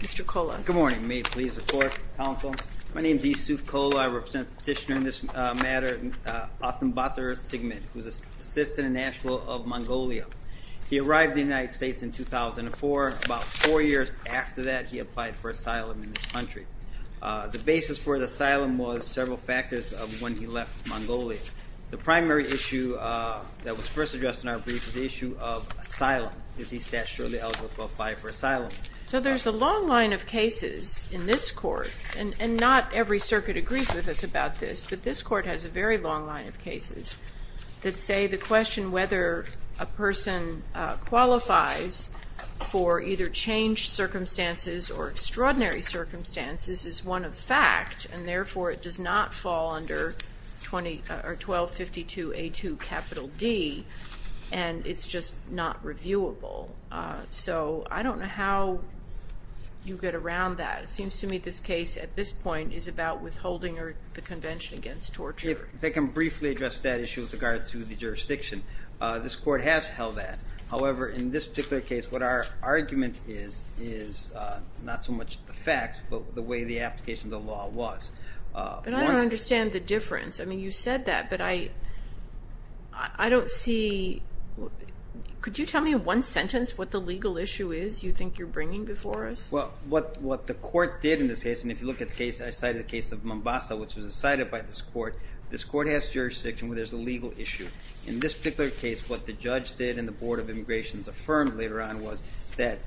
Mr. Kola. Good morning. May it please the Court, Counsel. My name is D. Suf Kola. I represent the petitioner in this matter, Oganbaatar Tsegmed, who is an assistant in Nashville of Mongolia. He arrived in the United States in 2004. About four years after that, he applied for asylum in this country. The basis for the asylum was several factors of when he left Mongolia. The primary issue that was first addressed in our brief was the issue of asylum. Is he statutorily eligible to apply for asylum? So there's a long line of cases in this Court, and not every circuit agrees with us about this, but this Court has a very long line of cases that say the question whether a person qualifies for either changed circumstances or extraordinary circumstances is one of fact, and therefore it does not fall under 1252A2D, and it's just not reviewable. So I don't know how you get around that. It seems to me this case at this point is about withholding the Convention against Torture. If I can briefly address that issue with regard to the jurisdiction. This Court has held that. However, in this particular case, what our argument is, is not so much the facts, but the way the application of the law was. But I don't understand the difference. I mean, you said that, but I don't see... Could you tell me in one sentence what the legal issue is you think you're bringing before us? Well, what the Court did in this case, and if you look at the case I cited, the case of Mombasa, which was decided by this Court, this Court has jurisdiction where there's a legal issue. In this particular case, what the judge did and the Board of Immigrations affirmed later on was that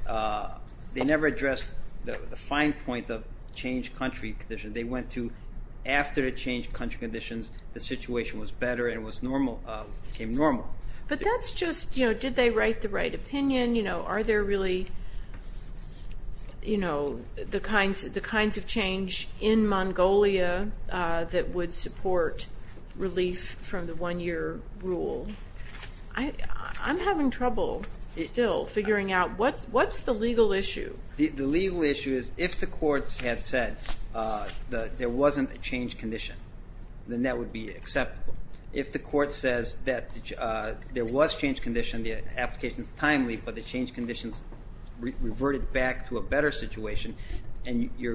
they never addressed the fine point of changed country conditions. They went to after the changed country conditions, the situation was better and it became normal. But that's just, you know, did they write the right opinion? You know, are there really, you know, the kinds of change in Mongolia that would support relief from the one-year rule? I'm having trouble still figuring out what's the legal issue. The legal issue is if the courts had said there wasn't a changed condition, then that would be acceptable. If the court says that there was changed condition, the application is timely, but the changed conditions reverted back to a better situation, but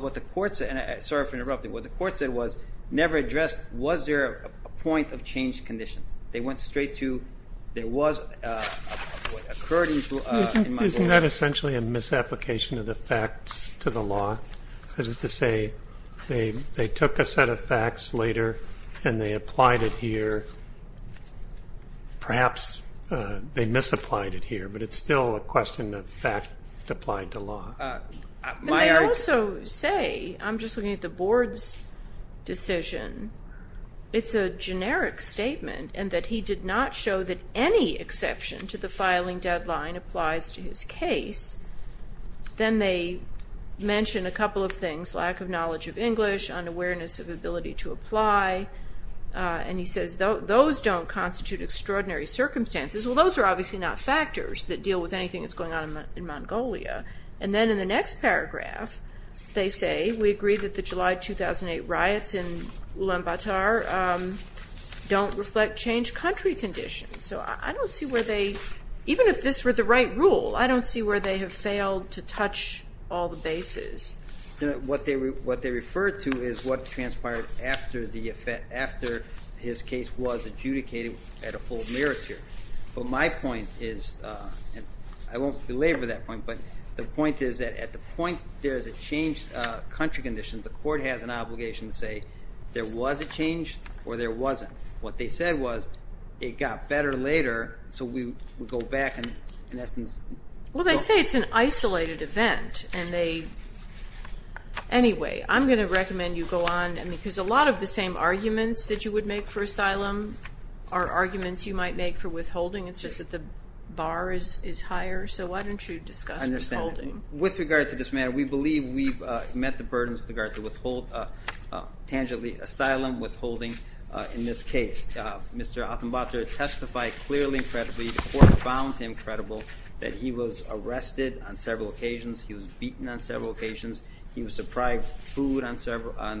what the court said, and sorry for interrupting, what the court said was never addressed was there a point of changed conditions. They went straight to there was what occurred in Mongolia. Isn't that essentially a misapplication of the facts to the law? That is to say they took a set of facts later and they applied it here. Perhaps they misapplied it here, but it's still a question of fact applied to law. They also say, I'm just looking at the board's decision, it's a generic statement and that he did not show that any exception to the filing deadline applies to his case. Then they mention a couple of things, lack of knowledge of English, unawareness of ability to apply, and he says those don't constitute extraordinary circumstances. Well, those are obviously not factors that deal with anything that's going on in Mongolia. And then in the next paragraph, they say we agree that the July 2008 riots in Ulaanbaatar don't reflect changed country conditions. So I don't see where they, even if this were the right rule, I don't see where they have failed to touch all the bases. What they refer to is what transpired after the effect, after his case was adjudicated at a full mirror tier. But my point is, I won't belabor that point, but the point is that at the point there is a changed country condition, the court has an obligation to say there was a change or there wasn't. What they said was it got better later, so we go back in essence. Well, they say it's an isolated event, and they, anyway, I'm going to recommend you go on, because a lot of the same arguments that you would make for asylum are arguments you might make for withholding. It's just that the bar is higher, so why don't you discuss withholding? I understand. With regard to this matter, we believe we've met the burdens with regard to withhold, tangibly, asylum withholding in this case. Mr. Atambatra testified clearly and credibly. The court found him credible that he was arrested on several occasions. He was beaten on several occasions. He was deprived food on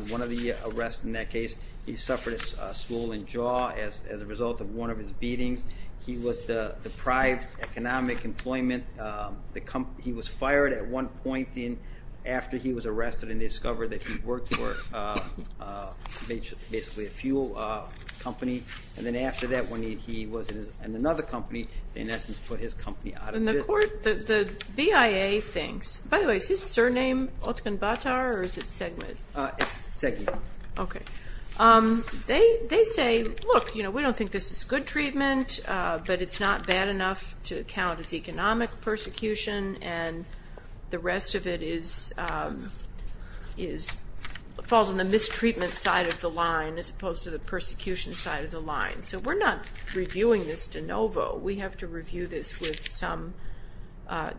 one of the arrests in that case. He suffered a swollen jaw as a result of one of his beatings. He was deprived economic employment. He was fired at one point after he was arrested and discovered that he worked for basically a fuel company, and then after that when he was in another company, they in essence put his company out of business. And the court, the BIA thinks, by the way, is his surname Atambatra or is it Segmit? Segmit. Okay. They say, look, you know, we don't think this is good treatment, but it's not bad enough to count as economic persecution, and the rest of it falls on the mistreatment side of the line as opposed to the persecution side of the line. So we're not reviewing this de novo. We have to review this with some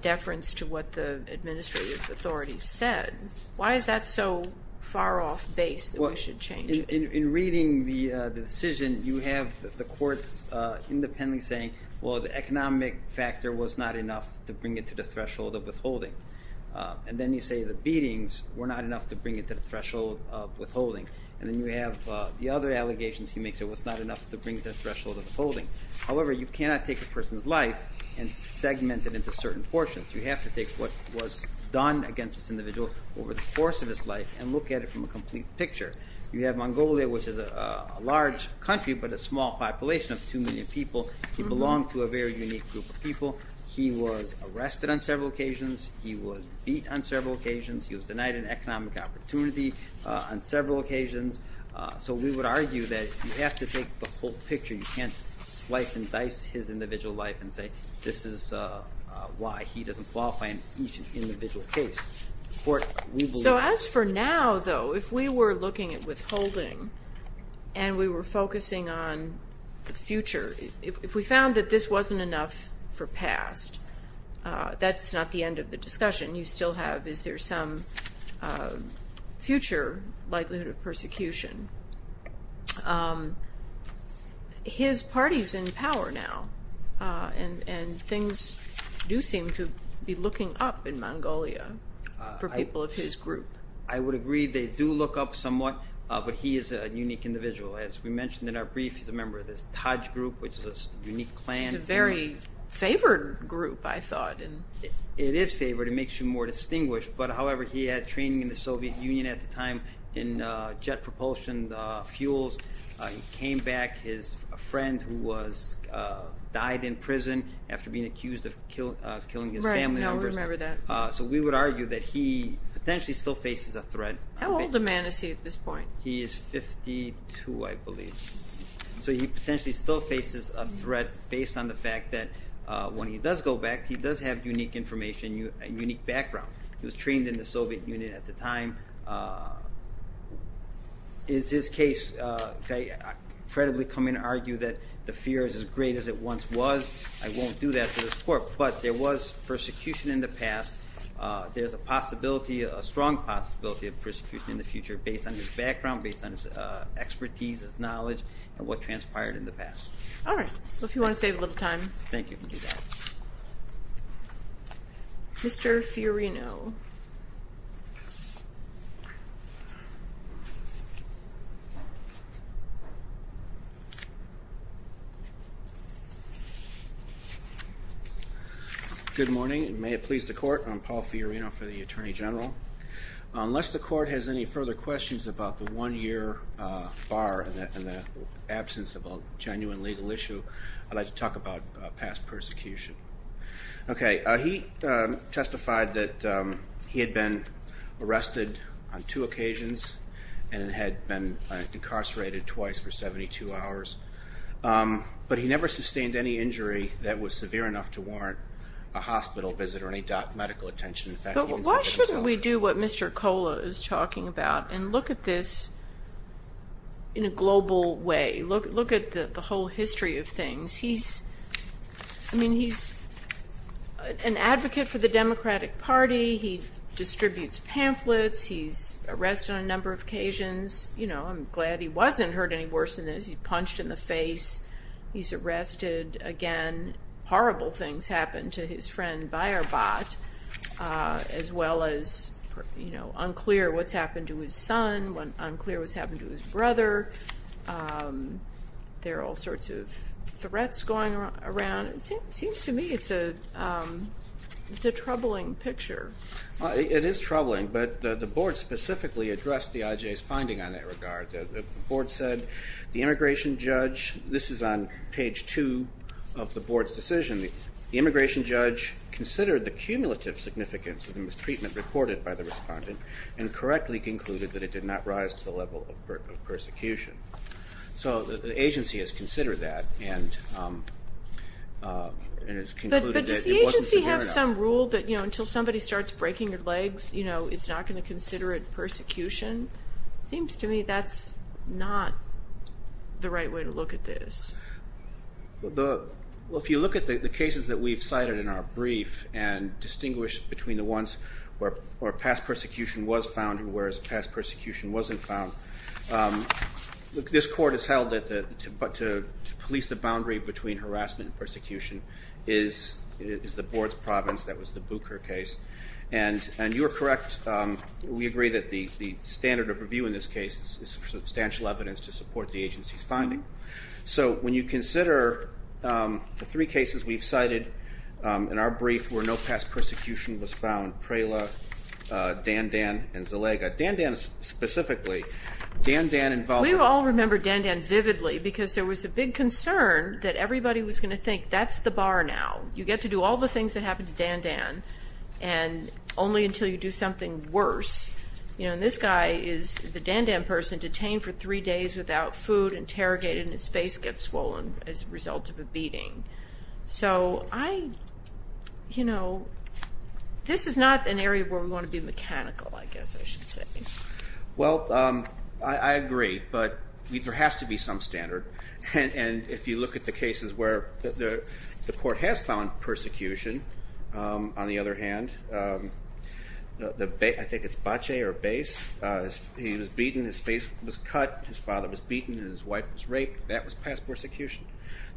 deference to what the administrative authorities said. Why is that so far off base that we should change it? In reading the decision, you have the courts independently saying, well, the economic factor was not enough to bring it to the threshold of withholding. And then you say the beatings were not enough to bring it to the threshold of withholding. And then you have the other allegations he makes. It was not enough to bring it to the threshold of withholding. However, you cannot take a person's life and segment it into certain portions. You have to take what was done against this individual over the course of his life and look at it from a complete picture. You have Mongolia, which is a large country but a small population of 2 million people. He belonged to a very unique group of people. He was arrested on several occasions. He was beat on several occasions. He was denied an economic opportunity on several occasions. So we would argue that you have to take the whole picture. You can't slice and dice his individual life and say this is why he doesn't qualify in each individual case. The court will believe that. So as for now, though, if we were looking at withholding and we were focusing on the future, if we found that this wasn't enough for past, that's not the end of the discussion. You still have is there some future likelihood of persecution. His party is in power now, and things do seem to be looking up in Mongolia for people of his group. I would agree they do look up somewhat, but he is a unique individual. As we mentioned in our brief, he's a member of this Taj Group, which is a unique clan. It's a very favored group, I thought. It is favored. It makes you more distinguished. But, however, he had training in the Soviet Union at the time in jet propulsion fuels. He came back. His friend who died in prison after being accused of killing his family members. Right, I remember that. So we would argue that he potentially still faces a threat. How old a man is he at this point? He is 52, I believe. So he potentially still faces a threat based on the fact that when he does go back, he does have unique information, unique background. He was trained in the Soviet Union at the time. Is his case, I credibly come in and argue that the fear is as great as it once was. I won't do that to this court, but there was persecution in the past. There's a possibility, a strong possibility of persecution in the future based on his background, based on his expertise, his knowledge, and what transpired in the past. All right. Well, if you want to save a little time. Thank you. You can do that. Mr. Fiorino. Good morning, and may it please the court. I'm Paul Fiorino for the Attorney General. Unless the court has any further questions about the one-year bar and the absence of a genuine legal issue, I'd like to talk about past persecution. Okay. He testified that he had been arrested on two occasions and had been incarcerated twice for 72 hours, but he never sustained any injury that was severe enough to warrant a hospital visit or any medical attention. Why shouldn't we do what Mr. Kola is talking about and look at this in a global way? Look at the whole history of things. I mean, he's an advocate for the Democratic Party. He distributes pamphlets. He's arrested on a number of occasions. You know, I'm glad he wasn't hurt any worse than this. He punched in the face. He's arrested again. Horrible things happened to his friend Bayerbot, as well as unclear what's happened to his son, unclear what's happened to his brother. There are all sorts of threats going around. It seems to me it's a troubling picture. It is troubling, but the board specifically addressed the IJ's finding on that regard. The board said the immigration judge, this is on page two of the board's decision, the immigration judge considered the cumulative significance of the mistreatment reported by the respondent and correctly concluded that it did not rise to the level of persecution. So the agency has considered that and has concluded that it wasn't severe enough. But does the agency have some rule that until somebody starts breaking your legs, it's not going to consider it persecution? It seems to me that's not the right way to look at this. Well, if you look at the cases that we've cited in our brief and distinguish between the ones where past persecution was found and whereas past persecution wasn't found, this court has held that to police the boundary between harassment and persecution is the board's province. That was the Booker case. And you are correct. We agree that the standard of review in this case is substantial evidence to support the agency's finding. So when you consider the three cases we've cited in our brief where no past persecution was found, Prela, Dandan, and Zalega, Dandan specifically. We all remember Dandan vividly because there was a big concern that everybody was going to think that's the bar now. You get to do all the things that happen to Dandan and only until you do something worse. And this guy is the Dandan person detained for three days without food, interrogated, and his face gets swollen as a result of a beating. So this is not an area where we want to be mechanical, I guess I should say. Well, I agree, but there has to be some standard. And if you look at the cases where the court has found persecution, on the other hand, I think it's Bache or Base. He was beaten, his face was cut, his father was beaten, and his wife was raped. That was past persecution.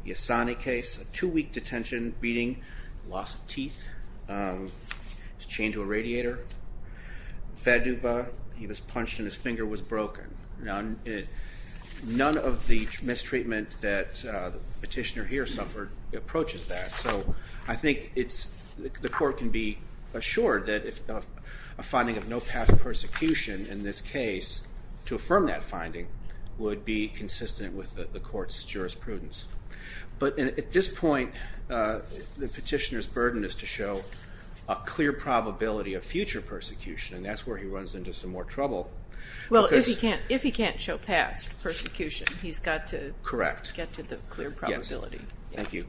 The Asani case, a two-week detention, beating, loss of teeth, was chained to a radiator. Faduba, he was punched and his finger was broken. None of the mistreatment that the petitioner here suffered approaches that. So I think the court can be assured that a finding of no past persecution in this case, to affirm that finding, would be consistent with the court's jurisprudence. But at this point, the petitioner's burden is to show a clear probability of future persecution, and that's where he runs into some more trouble. Well, if he can't show past persecution, he's got to get to the clear probability. Thank you.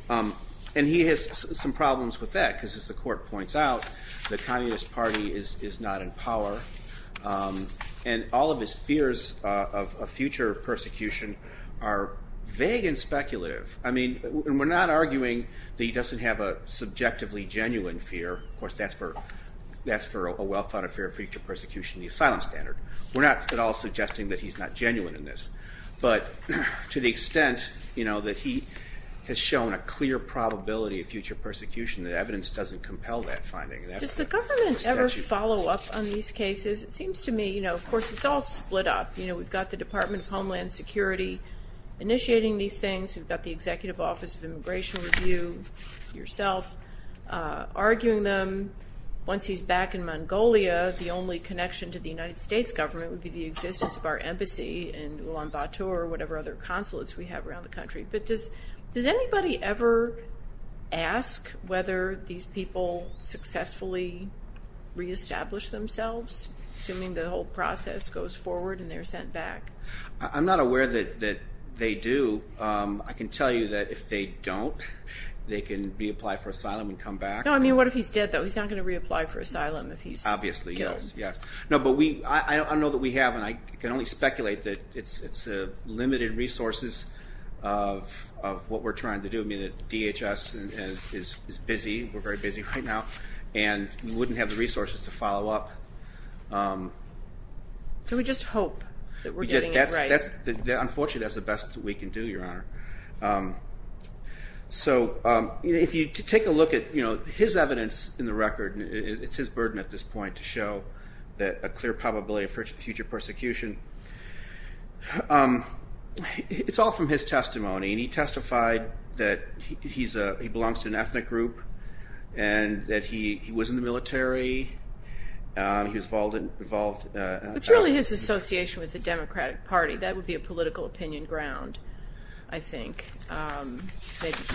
And he has some problems with that, because as the court points out, the Communist Party is not in power, and all of his fears of future persecution are vague and speculative. I mean, we're not arguing that he doesn't have a subjectively genuine fear. Of course, that's for a well-founded fear of future persecution, the asylum standard. We're not at all suggesting that he's not genuine in this. But to the extent that he has shown a clear probability of future persecution, that evidence doesn't compel that finding. Does the government ever follow up on these cases? It seems to me, of course, it's all split up. We've got the Department of Homeland Security initiating these things. We've got the Executive Office of Immigration Review, yourself, arguing them. Once he's back in Mongolia, the only connection to the United States government would be the existence of our embassy in Ulaanbaatar or whatever other consulates we have around the country. But does anybody ever ask whether these people successfully reestablish themselves, assuming the whole process goes forward and they're sent back? I'm not aware that they do. I can tell you that if they don't, they can reapply for asylum and come back. No, I mean, what if he's dead, though? He's not going to reapply for asylum if he's killed. I know that we have, and I can only speculate that it's limited resources of what we're trying to do. I mean, the DHS is busy. We're very busy right now, and we wouldn't have the resources to follow up. Do we just hope that we're getting it right? Unfortunately, that's the best that we can do, Your Honor. So if you take a look at his evidence in the record, it's his burden at this point to show a clear probability of future persecution. It's all from his testimony, and he testified that he belongs to an ethnic group and that he was in the military. It's really his association with the Democratic Party. That would be a political opinion ground, I think.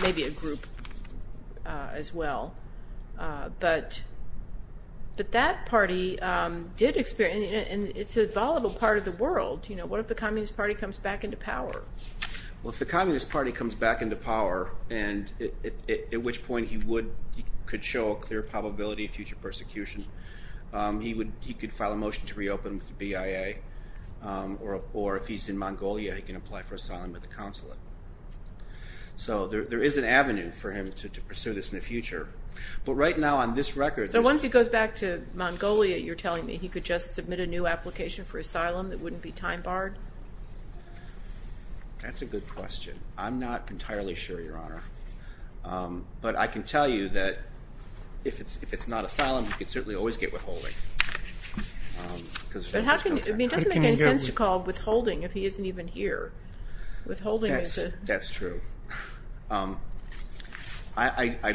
Maybe a group as well. But that party did experience, and it's a volatile part of the world. What if the Communist Party comes back into power? Well, if the Communist Party comes back into power, at which point he could show a clear probability of future persecution, he could file a motion to reopen with the BIA. Or if he's in Mongolia, he can apply for asylum with the consulate. So there is an avenue for him to pursue this in the future. But right now, on this record, there's... So once he goes back to Mongolia, you're telling me he could just submit a new application for asylum that wouldn't be time-barred? That's a good question. I'm not entirely sure, Your Honor. But I can tell you that if it's not asylum, he could certainly always get withholding. But it doesn't make any sense to call withholding if he isn't even here. Withholding is a... That's true. I'm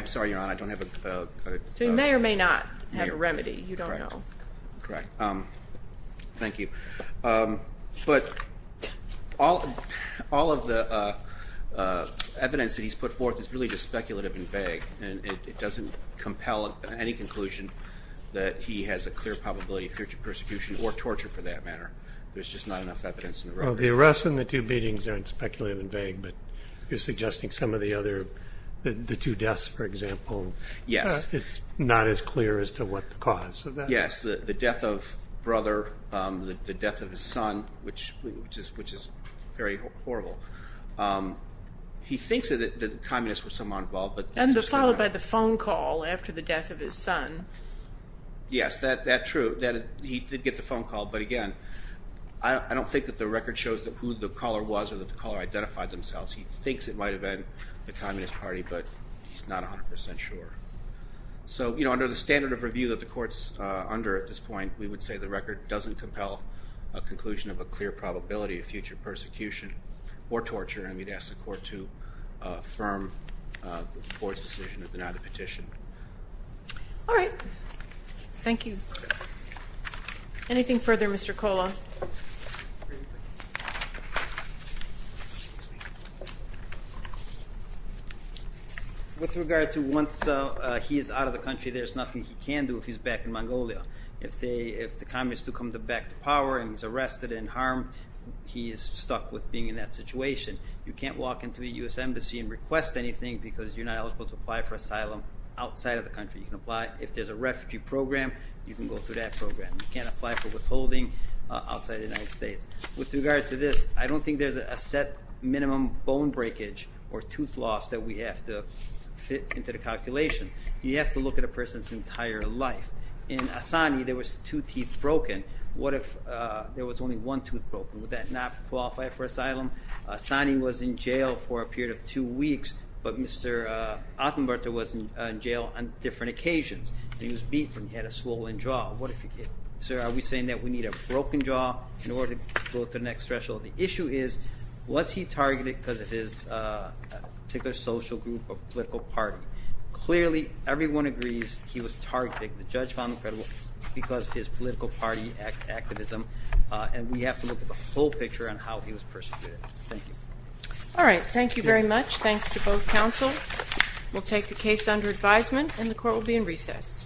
sorry, Your Honor, I don't have a... So he may or may not have a remedy. You don't know. Correct. Thank you. But all of the evidence that he's put forth is really just speculative and vague, and it doesn't compel any conclusion that he has a clear probability of future persecution or torture, for that matter. There's just not enough evidence in the record. Well, the arrest and the two beatings aren't speculative and vague, but you're suggesting some of the other, the two deaths, for example. Yes. It's not as clear as to what the cause of that is. Yes, the death of brother, the death of his son, which is very horrible. He thinks that the communists were somewhat involved, but... And followed by the phone call after the death of his son. Yes, that's true, that he did get the phone call. But, again, I don't think that the record shows who the caller was or that the caller identified themselves. He thinks it might have been the Communist Party, but he's not 100% sure. So, you know, under the standard of review that the Court's under at this point, we would say the record doesn't compel a conclusion of a clear probability of future persecution or torture. I would ask the Court to affirm the Court's decision to deny the petition. All right. Thank you. Anything further, Mr. Kola? With regard to once he is out of the country, there's nothing he can do if he's back in Mongolia. If the communists do come back to power and he's arrested and harmed, he is stuck with being in that situation. You can't walk into a U.S. embassy and request anything because you're not eligible to apply for asylum outside of the country. You can apply if there's a refugee program. You can go through that program. You can't apply for withholding outside the United States. With regard to this, I don't think there's a set minimum bone breakage or tooth loss that we have to fit into the calculation. You have to look at a person's entire life. In Assani, there was two teeth broken. What if there was only one tooth broken? Would that not qualify for asylum? Assani was in jail for a period of two weeks, but Mr. Attenberter was in jail on different occasions. He was beat when he had a swollen jaw. Sir, are we saying that we need a broken jaw in order to go to the next threshold? The issue is, was he targeted because of his particular social group or political party? Clearly, everyone agrees he was targeted. The judge found him credible because of his political party activism, and we have to look at the whole picture on how he was persecuted. Thank you. All right. Thank you very much. Thanks to both counsel. We'll take the case under advisement, and the court will be in recess.